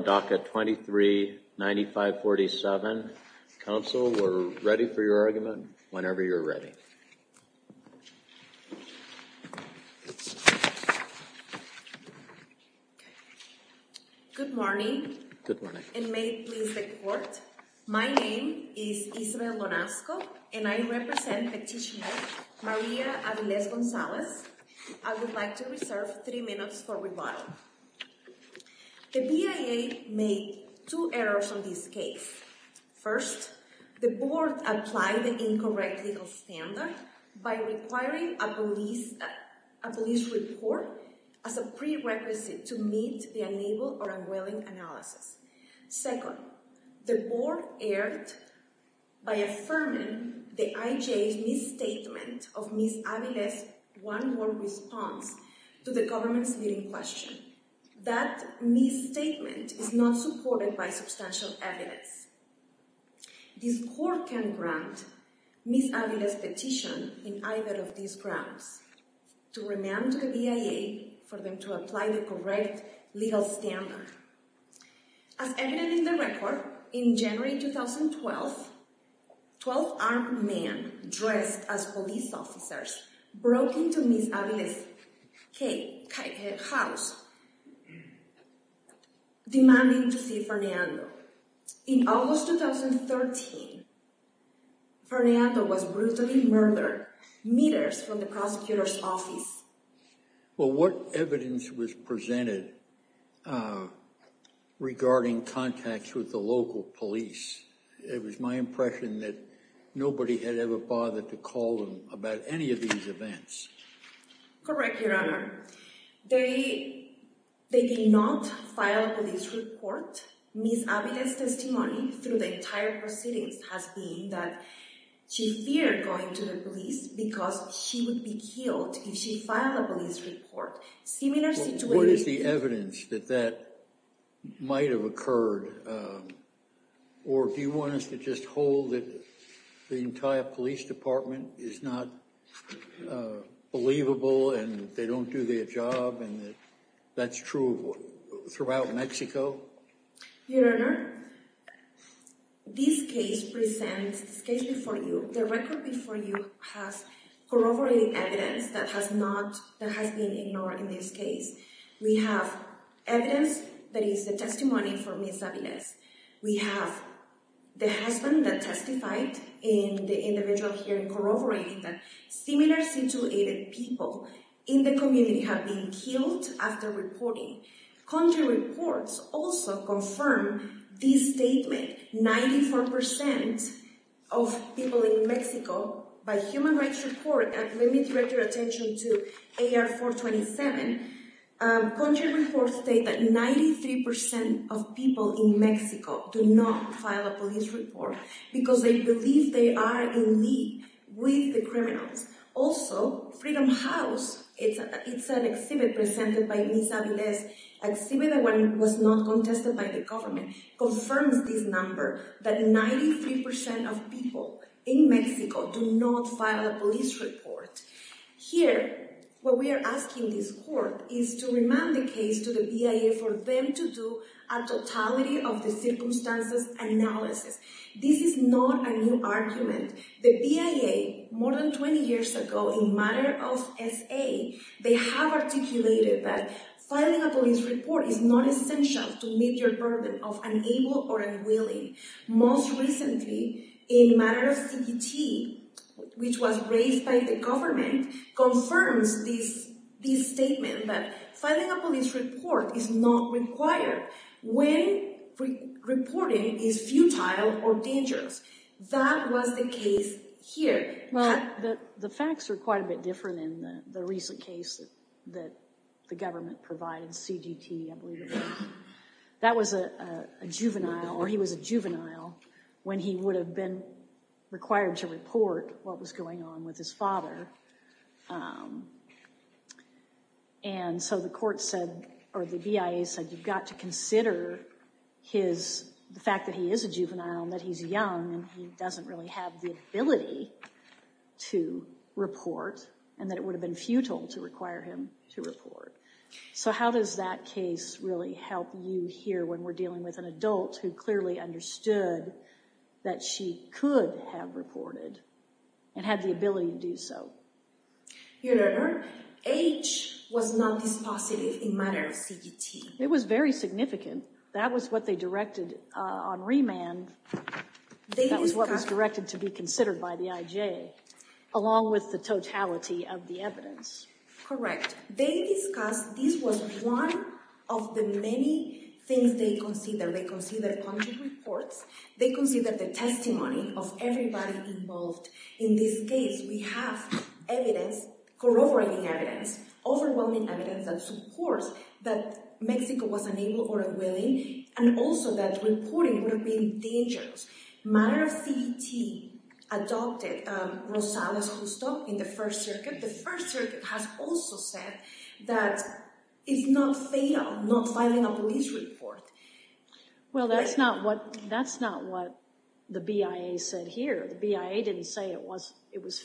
DACA 23-9547. Council, we're ready for your argument whenever you're ready. Good morning, and may it please the Court. My name is Isabel Lonasco, and I represent petitioner Maria Aviles-Gonzalez. I would like to reserve three minutes for rebuttal. The BIA made two errors on this case. First, the Board applied the incorrect legal standard by requiring a police report as a prerequisite to meet the unable or unwilling analysis. Second, the Board erred by affirming the IJA's misstatement of Ms. Aviles' one-word response to the government's leading question. That misstatement is not supported by substantial evidence. This Court can grant Ms. Aviles' petition in either of these grounds to remand to the BIA for them to apply the correct legal standard. As evident in the record, in January 2012, 12 armed men dressed as police officers broke into Ms. Aviles' house demanding to see Fernando. In August 2013, Fernando was brutally murdered meters from the prosecutor's office. Well, what evidence was presented regarding contacts with the local police? It was my impression that nobody had ever bothered to call them about any of these events. Correct, Your Honor. They did not file a police report. Ms. Aviles' testimony through the entire proceedings has been that she feared going to the police because she would be killed if she filed a police report. What is the evidence that that might have occurred? Or do you want us to just hold that the entire police department is not believable and they don't do their job and that's true throughout Mexico? Your Honor, this case before you has corroborating evidence that has been ignored in this case. We have evidence that is the testimony from Ms. Aviles. We have the husband that testified in the individual hearing corroborating that similar situated people in the community have been killed after reporting. Country report, let me direct your attention to AR-427. Country report state that 93% of people in Mexico do not file a police report because they believe they are in league with the criminals. Also, Freedom House, it's an exhibit presented by Ms. Aviles, exhibit that was not contested by the government, confirms this number that 93% of people in Mexico do not file a police report. Here, what we are asking this court is to remind the case to the BIA for them to do a totality of the circumstances analysis. This is not a new argument. The BIA more than 20 years ago in matter of SA, they have articulated that filing a police report is not essential to meet your burden of unable or unwilling. Most recently, in matter of CBT, which was raised by the government, confirms this statement that filing a police report is not required when reporting is futile or dangerous. That was the case here. The facts are quite a bit different in the recent case that the government provided CBT. That was a juvenile or he was a juvenile when he would have been required to report what was going on with his father. The BIA said you've got to consider the fact that he is a juvenile and that he's young and he doesn't really have the ability to report and that it would have been futile to require him to report. So how does that case really help you here when we're dealing with an adult who clearly understood that she could have reported and had the ability to do so? Your Honor, age was not dispositive in matter of CBT. It was very significant. That was what they directed on remand. That was what was directed to be considered by the IJ, along with the totality of the evidence. Correct. They discussed this was one of the many things they considered. They considered punctual reports. They considered the testimony of everybody involved. In this case, we have evidence, corroborating evidence, overwhelming evidence that supports that Mexico was unable or unwilling and also that reporting would have been dangerous. Matter of CBT adopted Rosales Gusto in the First Circuit. The First Circuit has also said that it's not fatal not filing a police report. Well, that's not what the BIA said here. The BIA didn't say it was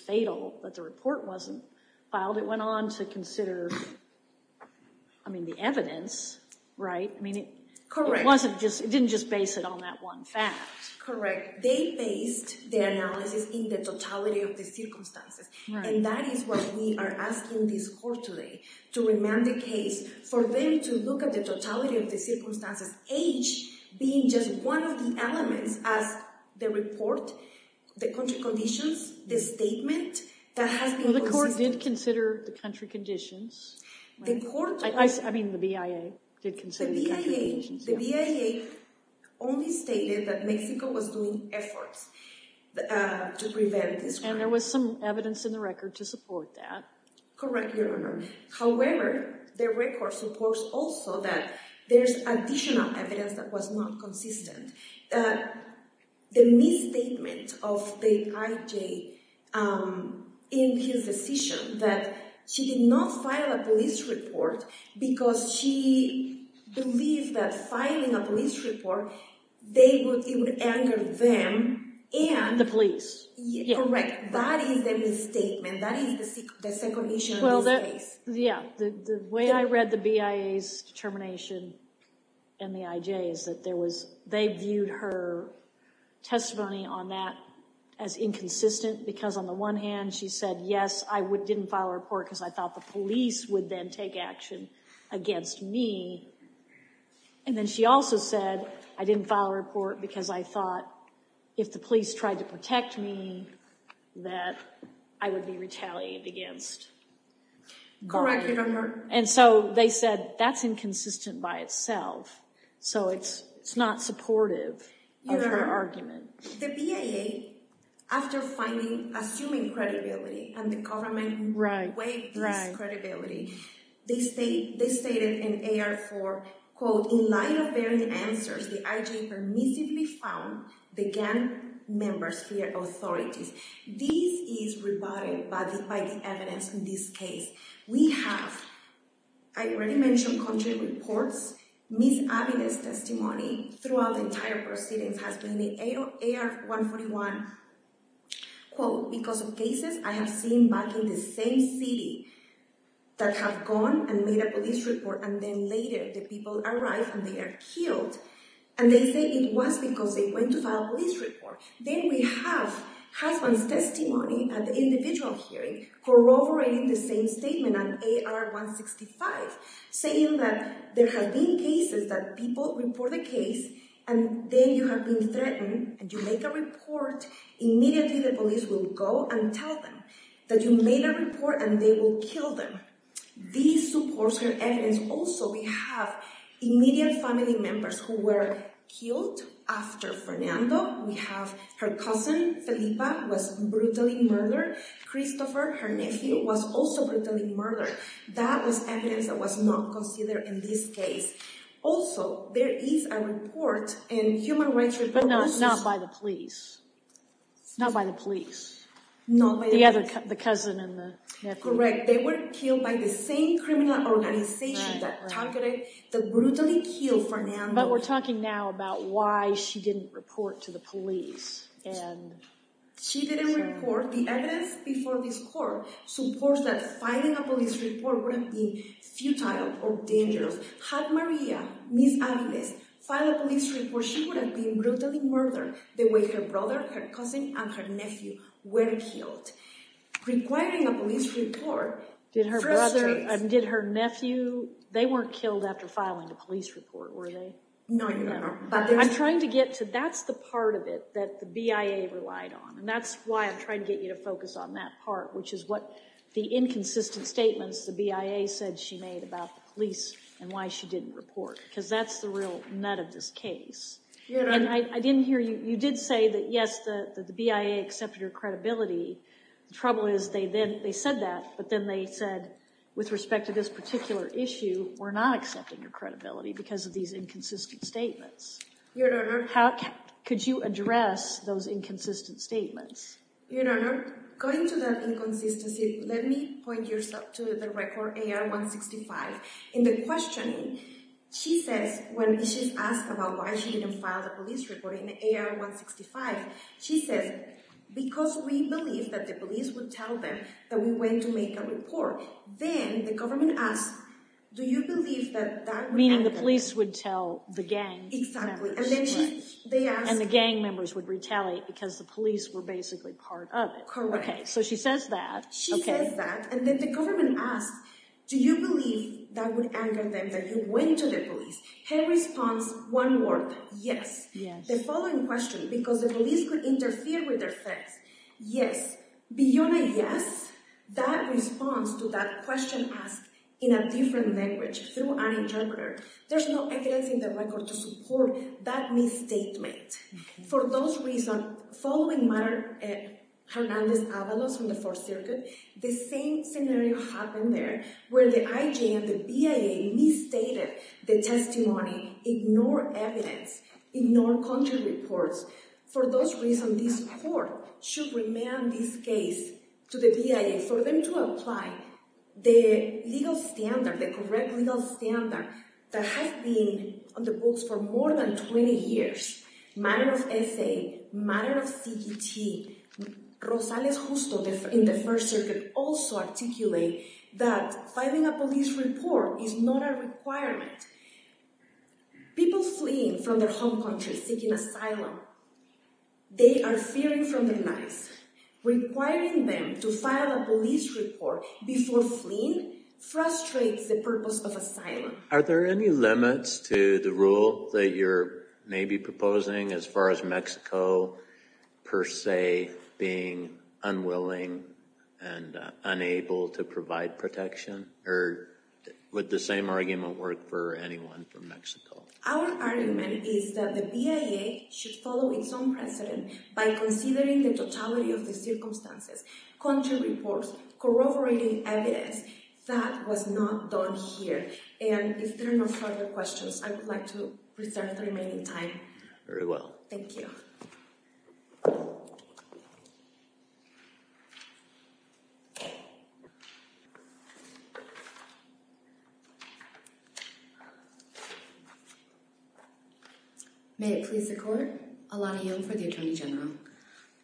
fatal, that the report wasn't filed. It went on to consider, I mean, the evidence, right? It didn't just base it on that one fact. Correct. They based their analysis in the totality of the circumstances and that is what we are asking this Court today, to remand the case for them to look at the totality of the circumstances, H being just one of the elements as the report, the country conditions, the statement that has been considered. Well, the Court did consider the country conditions. I mean, the BIA did consider the country conditions. The BIA only stated that Mexico was doing efforts to prevent this. And there was some evidence in the record to support that. Correct, Your Honor. However, the record supports also that there's additional evidence that was not consistent. The misstatement of the IJ in his decision that she did not file a police report because she believed that filing a police report, it would anger them and... The police. Correct. That is the misstatement. That is the second issue of this case. Yeah. The way I read the BIA's determination and the IJ's, that they viewed her testimony on that as inconsistent because on the one hand, she said, yes, I didn't file a report because I thought the police would then take action against me. And then she also said, I didn't file a report because I thought if the police tried to protect me, that I would be retaliated against. Correct, Your Honor. And so they said that's inconsistent by itself. So it's not supportive of her argument. Your Honor, the BIA, after finally assuming credibility and the government waived this the IJ permissively found the gang members fear authorities. This is rebutted by the evidence in this case. We have, I already mentioned country reports, Ms. Avedis' testimony throughout the entire proceedings has been the AR-141, quote, because of cases I have seen back in the same city that have gone and made a police report and then later the police filed. And they say it was because they went to file a police report. Then we have husband's testimony at the individual hearing corroborating the same statement on AR-165, saying that there have been cases that people report a case and then you have been threatened and you make a report, immediately the police will go and tell them that you made a report and they will kill them. These supports her evidence. Also, we have immediate family members who were killed after Fernando. We have her cousin, Felipa, was brutally murdered. Christopher, her nephew, was also brutally murdered. That was evidence that was not considered in this case. Also, there is a report in Human Rights Report. But not by the police. Not by the police. Not by the police. The other, the cousin and the nephew. Correct. They were killed by the same criminal organization that targeted, that brutally killed Fernando. But we're talking now about why she didn't report to the police. She didn't report. The evidence before this court supports that filing a police report would have been futile or dangerous. Had Maria, Ms. Aviles, filed a police report, she would have been brutally murdered the way her brother, her cousin, and her nephew were killed. But requiring a police report... Did her brother, did her nephew, they weren't killed after filing a police report, were they? No, Your Honor. I'm trying to get to, that's the part of it that the BIA relied on. And that's why I'm trying to get you to focus on that part, which is what the inconsistent statements the BIA said she made about the police and why she didn't report. Because that's the real nut of this case. Your Honor... And I didn't hear, you did say that yes, the BIA accepted your credibility. The trouble is they said that, but then they said, with respect to this particular issue, we're not accepting your credibility because of these inconsistent statements. Your Honor... How, could you address those inconsistent statements? Your Honor, going to that inconsistency, let me point yourself to the record AR-165. In the questioning, she says, when she's asked about why she didn't file the police report in AR-165, she says, because we believed that the police would tell them that we went to make a report. Then the government asked, do you believe that that would happen? Meaning the police would tell the gang members. Exactly. And then she, they asked... And the gang members would retaliate because the police were basically part of it. Correct. Okay, so she says that. She says that, and then the government asks, do you believe that would anger them that you went to the police? Her response, one word, yes. Yes. The following question, because the police could interfere with their things, yes. Beyond a yes, that response to that question asked in a different language through an interpreter, there's no evidence in the record to support that misstatement. For those reasons, following Hernandez-Avalos from the Fourth Circuit, the same scenario happened there where the IJ and the BIA misstated the testimony, ignored evidence, ignored country reports. For those reasons, this court should remand this case to the BIA for them to apply the legal standard, the correct legal standard that has been on the books for more than 20 years. Matter of essay, matter of CET, Rosales-Justo in the First Circuit also articulate that filing a police report is not a requirement. People fleeing from their home country seeking asylum, they are fearing for their lives. Requiring them to file a police report before fleeing frustrates the purpose of asylum. Are there any limits to the rule that you're maybe proposing as far as Mexico per se being unwilling and unable to provide protection? Or would the same argument work for anyone from Mexico? Our argument is that the BIA should follow its own precedent by considering the totality of the circumstances, country reports, corroborating evidence that was not done here. And if there are no further questions, I would like to reserve the remaining time. Very well. Thank you. May it please the court. Alana Young for the Attorney General.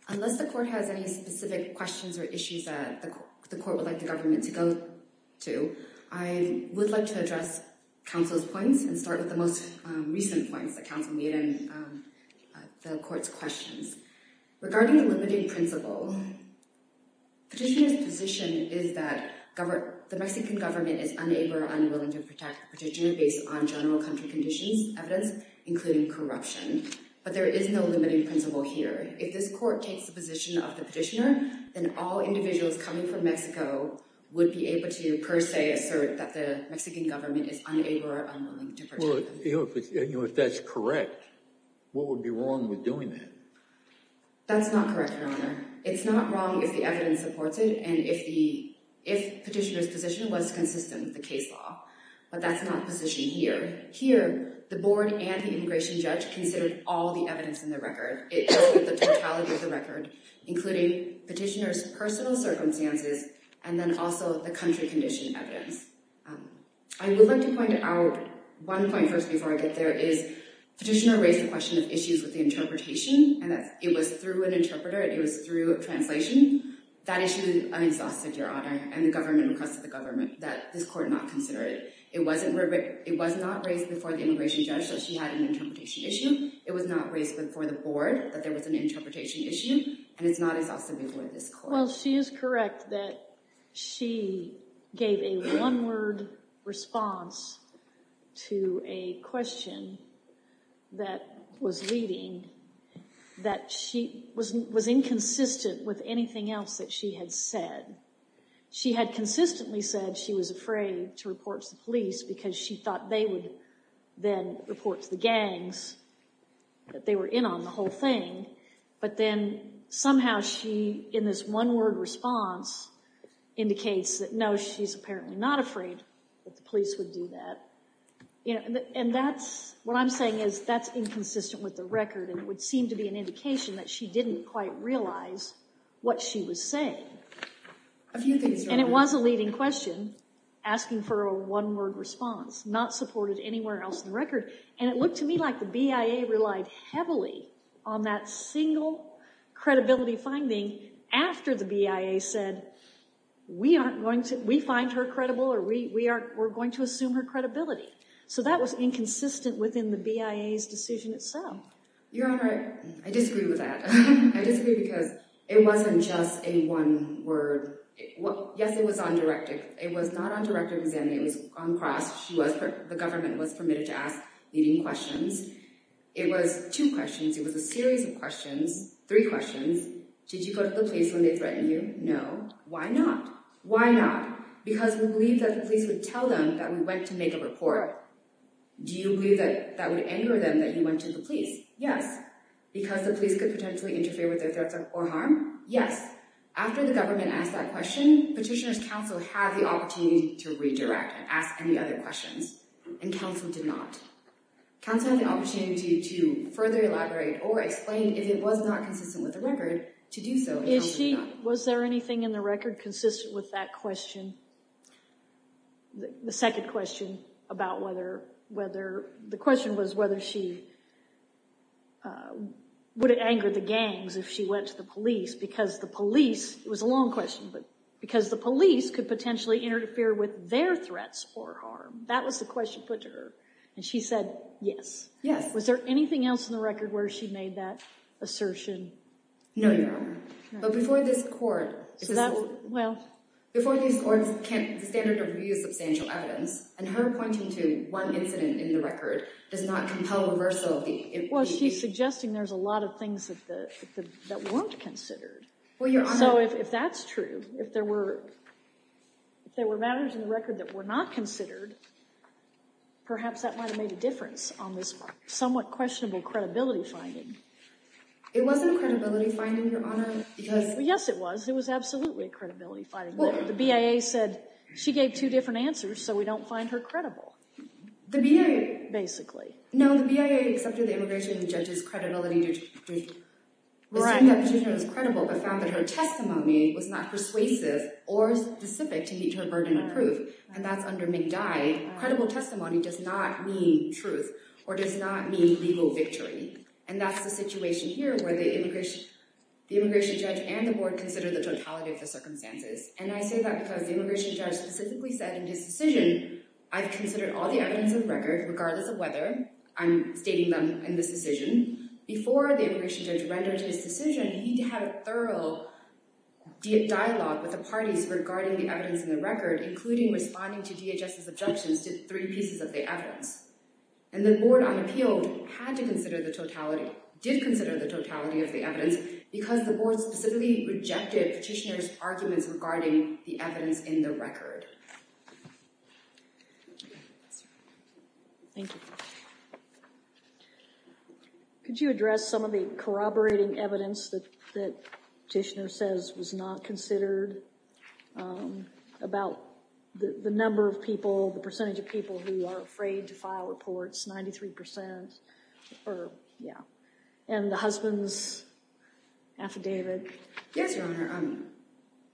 Unless the court has any specific questions or issues that the court would like the government to go to, I would like to address counsel's points and start with the most recent points that counsel made regarding the court's questions. Regarding the limiting principle, petitioner's position is that the Mexican government is unable or unwilling to protect the petitioner based on general country conditions, evidence, including corruption. But there is no limiting principle here. If this court takes the position of the petitioner, then all individuals coming from Mexico would be able to per se assert that the Mexican government is unable or unwilling to protect them. Well, if that's correct, what would be wrong with doing that? That's not correct, Your Honor. It's not wrong if the evidence supports it and if petitioner's position was consistent with the case law. But that's not the position here. Here, the board and the immigration judge considered all the evidence in the record. It looked at the totality of the record, including petitioner's personal circumstances and then also the country condition evidence. I would like to point out one point first before I get there. Petitioner raised the question of issues with the interpretation and that it was through an interpreter, it was through a translation. That issue is unexhausted, Your Honor, and the government requested the government that this court not consider it. It was not raised before the immigration judge that she had an interpretation issue. It was not raised before the board that there was an interpretation issue, and it's not exhausted before this court. Well, she is correct that she gave a one-word response to a question that was leading that she was inconsistent with anything else that she had said. She had consistently said she was afraid to report to the police because she thought they would then report to the indicates that no, she's apparently not afraid that the police would do that. And that's what I'm saying is that's inconsistent with the record, and it would seem to be an indication that she didn't quite realize what she was saying. A few things, Your Honor. And it was a leading question asking for a one-word response, not supported anywhere else in the record. And it looked to me like the BIA relied heavily on that single credibility finding after the BIA said, we find her credible or we're going to assume her credibility. So that was inconsistent within the BIA's decision itself. Your Honor, I disagree with that. I disagree because it wasn't just a one-word. Yes, it was on directive. It was not on directive then. It was on cross. The government was permitted to ask leading questions. It was two questions. It was a series of questions, three questions. Did you go to the police when they threatened you? No. Why not? Why not? Because we believe that the police would tell them that we went to make a report. Do you believe that that would anger them that you went to the police? Yes. Because the police could potentially interfere with their threats or harm? Yes. After the government asked that question, Petitioner's Counsel had the opportunity to redirect and ask any other questions, and Petitioner's Counsel had the opportunity to further elaborate or explain if it was not consistent with the record to do so. Was there anything in the record consistent with that question, the second question about whether, the question was whether she, would it anger the gangs if she went to the police because the police, it was a long question, but because the police could potentially interfere with their threats or harm. That was the question she put to her, and she said yes. Yes. Was there anything else in the record where she made that assertion? No, Your Honor. But before this court, before these courts can't standard of view substantial evidence, and her pointing to one incident in the record does not compel reversal of the... Well, she's suggesting there's a lot of things that weren't considered. So if that's true, if there were matters in the record that were not considered, perhaps that might have made a difference on this somewhat questionable credibility finding. It wasn't a credibility finding, Your Honor, because... Yes, it was. It was absolutely a credibility finding. The BIA said she gave two different answers, so we don't find her credible. The BIA... Basically. No, the BIA accepted the immigration judge's credibility to assume that the petitioner was credible, but found that her testimony was not persuasive or specific to meet her burden of proof, and that's under McDye. Credible testimony does not mean truth or does not mean legal victory, and that's the situation here where the immigration judge and the board consider the totality of the circumstances, and I say that because the immigration judge specifically said in his decision, I've considered all the evidence of record, regardless of whether I'm stating them in this decision. Before the immigration judge rendered his decision, he had a thorough dialogue with the parties regarding the evidence in the record, including responding to DHS's objections to three pieces of the evidence, and the board, on appeal, had to consider the totality... Did consider the totality of the evidence because the board specifically rejected petitioner's arguments regarding the evidence in the record. Thank you. Could you address some of the corroborating evidence that petitioner says was not considered about the number of people, the percentage of people who are afraid to file reports, 93% or... Yeah. And the husband's affidavit. Yes, Your Honor.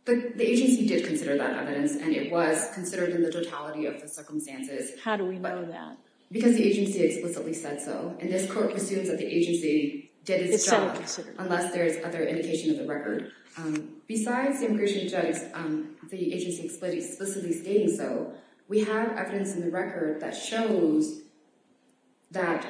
The agency did consider that evidence, and it was considered in the totality of the circumstances. How do we know that? Because the agency explicitly said so, and this court assumes that the agency did itself, unless there's other indication of the record. Besides the immigration judge, the agency explicitly stating so, we have other evidence in the record that shows that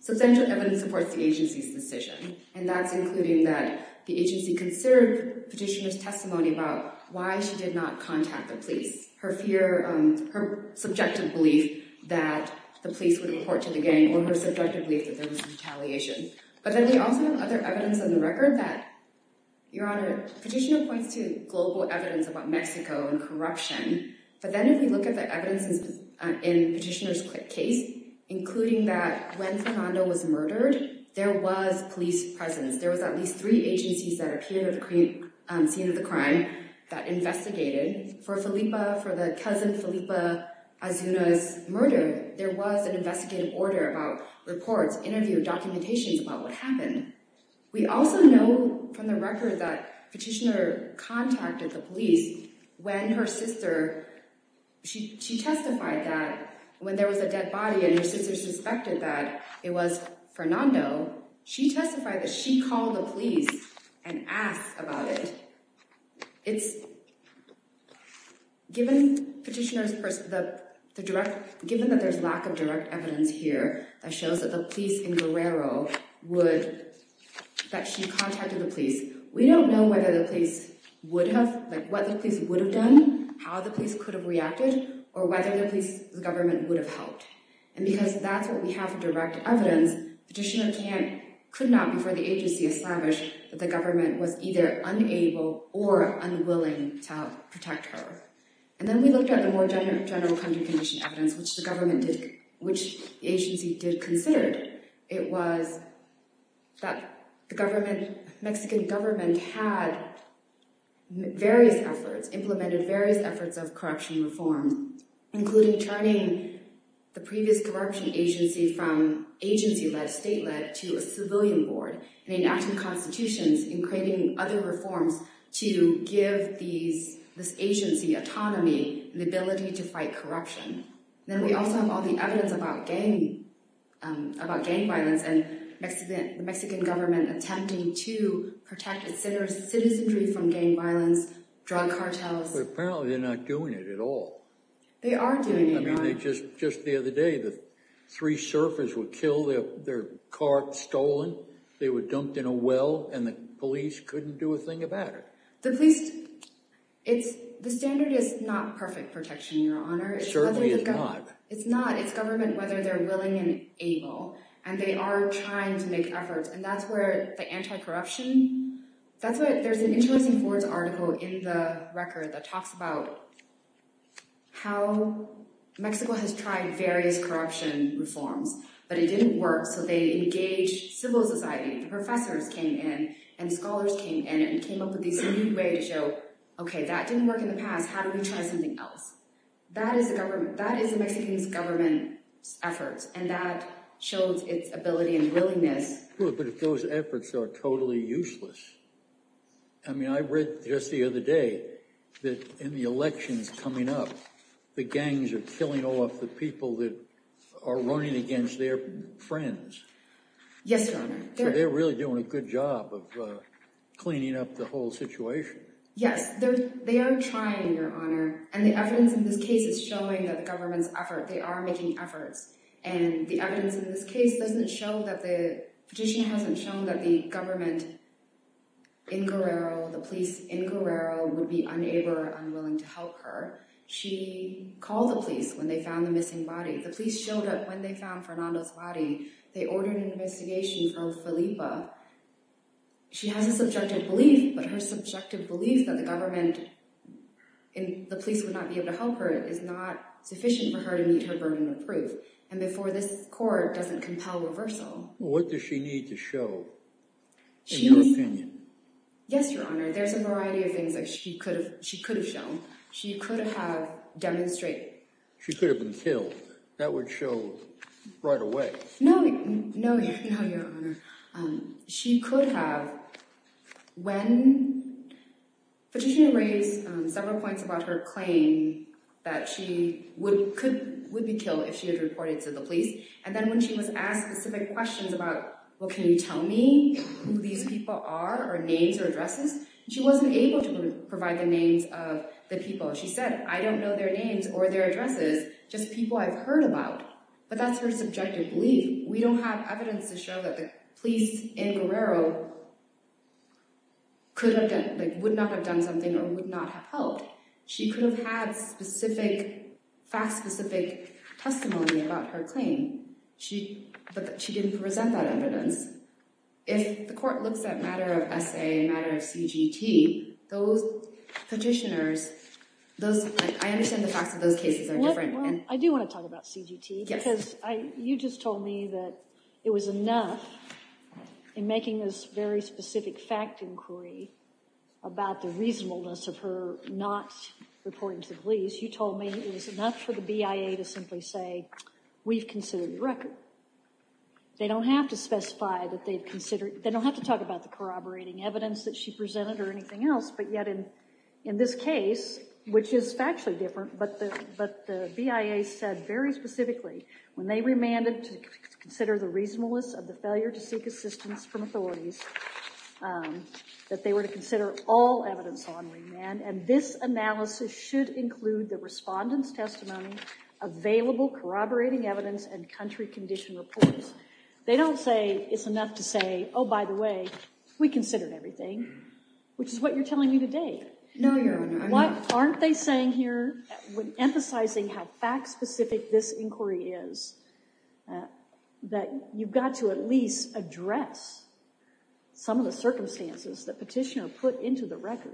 substantial evidence supports the agency's decision, and that's including that the agency considered petitioner's testimony about why she did not contact the police, her fear, her subjective belief that the police would report to the gang, or her subjective belief that there was retaliation. But then we also have other evidence in the record that, Your Honor, petitioner points to global evidence about Mexico and corruption. But then if we look at the evidence in petitioner's case, including that when Fernando was murdered, there was police presence. There was at least three agencies that appeared at the scene of the crime that investigated. For the cousin Felipe Azuna's murder, there was an investigative order about reports, interview, documentations about what happened. We also know from the record that petitioner contacted the police when her sister, she testified that when there was a dead body and her sister suspected that it was Fernando, she testified that she called the police and asked about it. Given that there's lack of direct evidence here that shows that the police in Guerrero would, that she contacted the police, we don't know whether the police would have, like what the police would have done, how the police could have reacted, or whether the police, the government would have helped. And because that's what we have direct evidence, petitioner can't, could not before the agency established that the government was either unable or unwilling to help protect her. And then we looked at the more general country condition evidence, which the government did, which the agency did consider. It was that the government, Mexican government had various efforts, implemented various efforts of corruption reform, including turning the previous corruption agency from agency-led, state-led, to a civilian board and enacting constitutions and creating other reforms to give these, this agency autonomy and the ability to fight corruption. Then we also have all the evidence about gang, about gang violence and Mexican government attempting to protect its citizens from gang violence, drug cartels. But apparently they're not doing it at all. They are doing it. I believe three surfers would kill their cart stolen. They were dumped in a well and the police couldn't do a thing about it. The police, it's, the standard is not perfect protection, Your Honor. It certainly is not. It's not. It's government, whether they're willing and able, and they are trying to make efforts. And that's where the anti-corruption, that's what, there's an interesting Ford's article in the record that talks about how Mexico has tried various corruption reforms, but it didn't work. So they engaged civil society. Professors came in and scholars came in and came up with this new way to show, okay, that didn't work in the past. How do we try something else? That is the government, that is the Mexican government's efforts. And that shows its ability and willingness. But if those efforts are totally useless, I mean, I read just the other day that in the elections coming up, the gangs are killing off the people that are running against their friends. Yes, Your Honor. They're really doing a good job of cleaning up the whole situation. Yes, they are trying, Your Honor. And the evidence in this case is showing that the government's effort, they are making efforts. And the evidence in this case doesn't show that the petition hasn't shown that the government in Guerrero, the police in Guerrero would not be unable or unwilling to help her. She called the police when they found the missing body. The police showed up when they found Fernando's body. They ordered an investigation from Filipa. She has a subjective belief, but her subjective belief that the government and the police would not be able to help her is not sufficient for her to meet her burden of proof. And therefore, this court doesn't compel reversal. What does she need to show in your opinion? Yes, Your Honor. There's a variety of things that she could have shown. She could have demonstrated. She could have been killed. That would show right away. No, Your Honor. She could have, when petitioner raised several points about her claim that she would be killed if she had reported to the police. And then when she was asked specific questions about, well, can you tell me who these people are or names or addresses? She wasn't able to provide the names of the people. She said, I don't know their names or their addresses, just people I've heard about. But that's her subjective belief. We don't have evidence to show that the police in Guerrero would not have done something or would not have helped. She could have had specific, fact-specific testimony about her claim, but she didn't present that evidence. If the court looks at a matter of essay, a matter of CGT, those petitioners, I understand the facts of those cases are different. Well, I do want to talk about CGT because you just told me that it was enough in making this very specific fact inquiry about the reasonableness of her not reporting to the police. You told me it was enough for the BIA to simply say, we've considered your record. They don't have to specify that they've considered, they don't have to talk about the corroborating evidence that she presented or anything else. But yet in this case, which is factually different, but the BIA said very specifically when they remanded to consider the reasonableness of the failure to seek assistance from authorities, that they were to consider all evidence on remand, and this analysis should include the respondent's testimony, available corroborating evidence, and country condition reports. They don't say it's enough to say, oh, by the way, we considered everything, which is what you're telling me today. No, Your Honor. Aren't they saying here, when emphasizing how fact-specific this inquiry is, that you've got to at least address some of the circumstances the petitioner put into the record?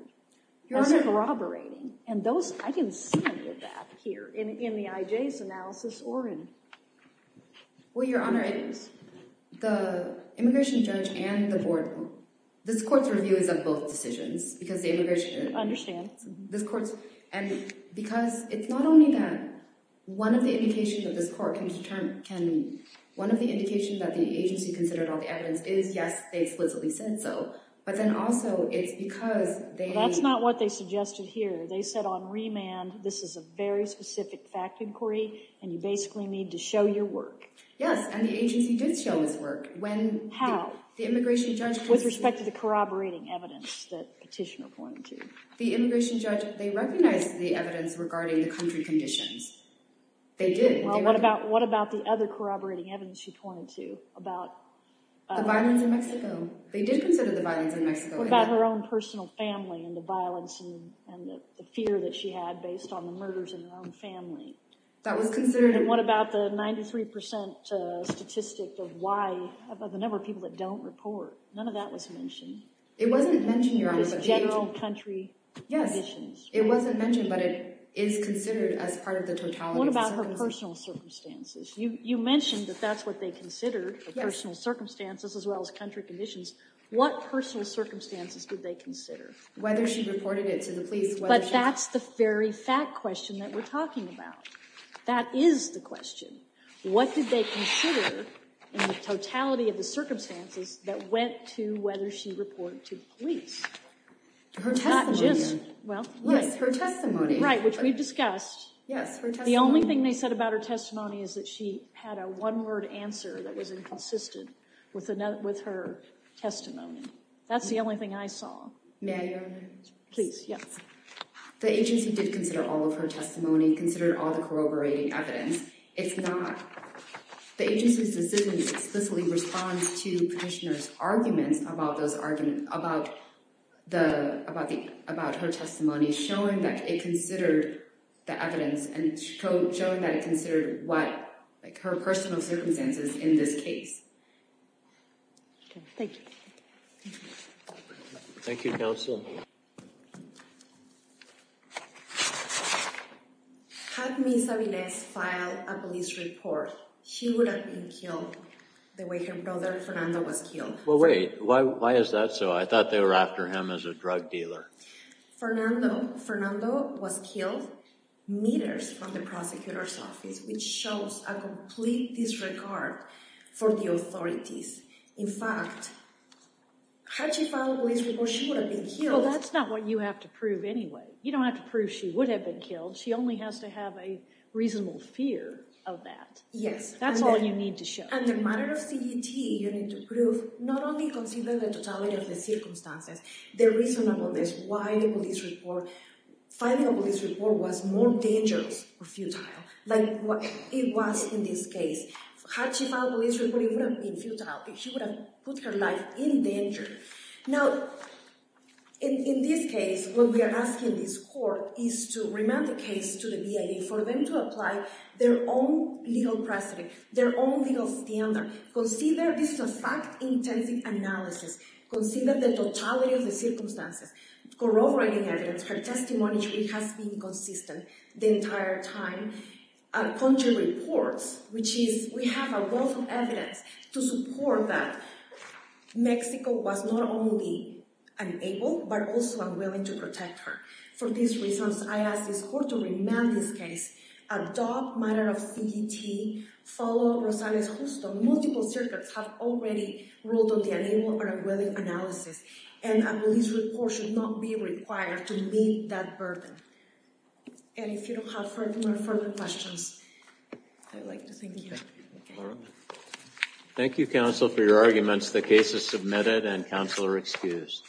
Your Honor. That's corroborating, and those, I can see under that here in the IJ's analysis or in... Well, Your Honor, the immigration judge and the board, this court's review is of both decisions, because the immigration judge... I understand. This court's, and because it's not only that one of the indications of this court can determine, can, one of the indications that the agency considered all the evidence is, yes, they explicitly said so, but then also it's because they... Well, that's not what they suggested here. They said on remand, this is a very specific fact inquiry, and you basically need to show your work. Yes, and the agency did show its work when... How? The immigration judge... With respect to the corroborating evidence that petitioner pointed to. The immigration judge, they recognized the evidence regarding the country conditions. They did. Well, what about the other corroborating evidence she pointed to about... The violence in Mexico. They did consider the violence in Mexico. What about her own personal family and the violence and the fear that she had based on the murders in her own family? That was considered... And what about the 93% statistic of why, of the number of people that don't report? None of that was mentioned. It wasn't mentioned, Your Honor. It was general country conditions. What about her personal circumstances? You mentioned that that's what they considered, her personal circumstances as well as country conditions. What personal circumstances did they consider? Whether she reported it to the police, whether she... But that's the very fact question that we're talking about. That is the question. What did they consider in the totality of the circumstances that went to whether she reported to the police? Her testimony. Not just... Yes, her testimony. Right, which we've discussed. Yes, her testimony. The only thing they said about her testimony is that she had a one-word answer that was inconsistent with her testimony. That's the only thing I saw. May I, Your Honor? Please, yes. The agency did consider all of her testimony, considered all the corroborating evidence. It's not... The agency's decision explicitly responds to Petitioner's arguments about her testimony, showing that it considered the evidence and showing that it considered her personal circumstances in this case. Okay, thank you. Thank you, counsel. Had Ms. Sabines filed a police report, she would have been killed the way her brother Fernando was killed. Well, wait. Why is that so? I thought they were after him as a drug dealer. Fernando, Fernando was killed meters from the prosecutor's office, which shows a complete disregard for the authorities. In fact, had she filed a police report, she would have been killed... Well, that's not what you have to prove anyway. You don't have to prove she would have been killed. She only has to have a reasonable fear of that. Yes. That's all you need to show. And the matter of CET, you need to prove not only considering the totality of the circumstances, the reasonableness, why the police report... Filing a police report was more dangerous or futile than it was in this case. Had she filed a police report, it wouldn't have been futile. She would have put her life in danger. Now, in this case, what we are asking this court is to remand the case to the VA for them to apply their own legal precedent, their own legal standard. Consider this is a fact-intensive analysis. Consider the totality of the circumstances. Corroborating evidence, her testimony has been consistent the entire time. Our country reports, which is, we have a wealth of evidence to support that Mexico was not only unable, but also unwilling to protect her. For these reasons, I ask this court to remand this case. Adopt matter of CET. Follow Rosales-Justo. Multiple circuits have already ruled on the unable or unwilling analysis. And a police report should not be required to meet that burden. And if you don't have further questions, I'd like to thank you. Thank you, counsel, for your arguments. The case is submitted and counsel are excused.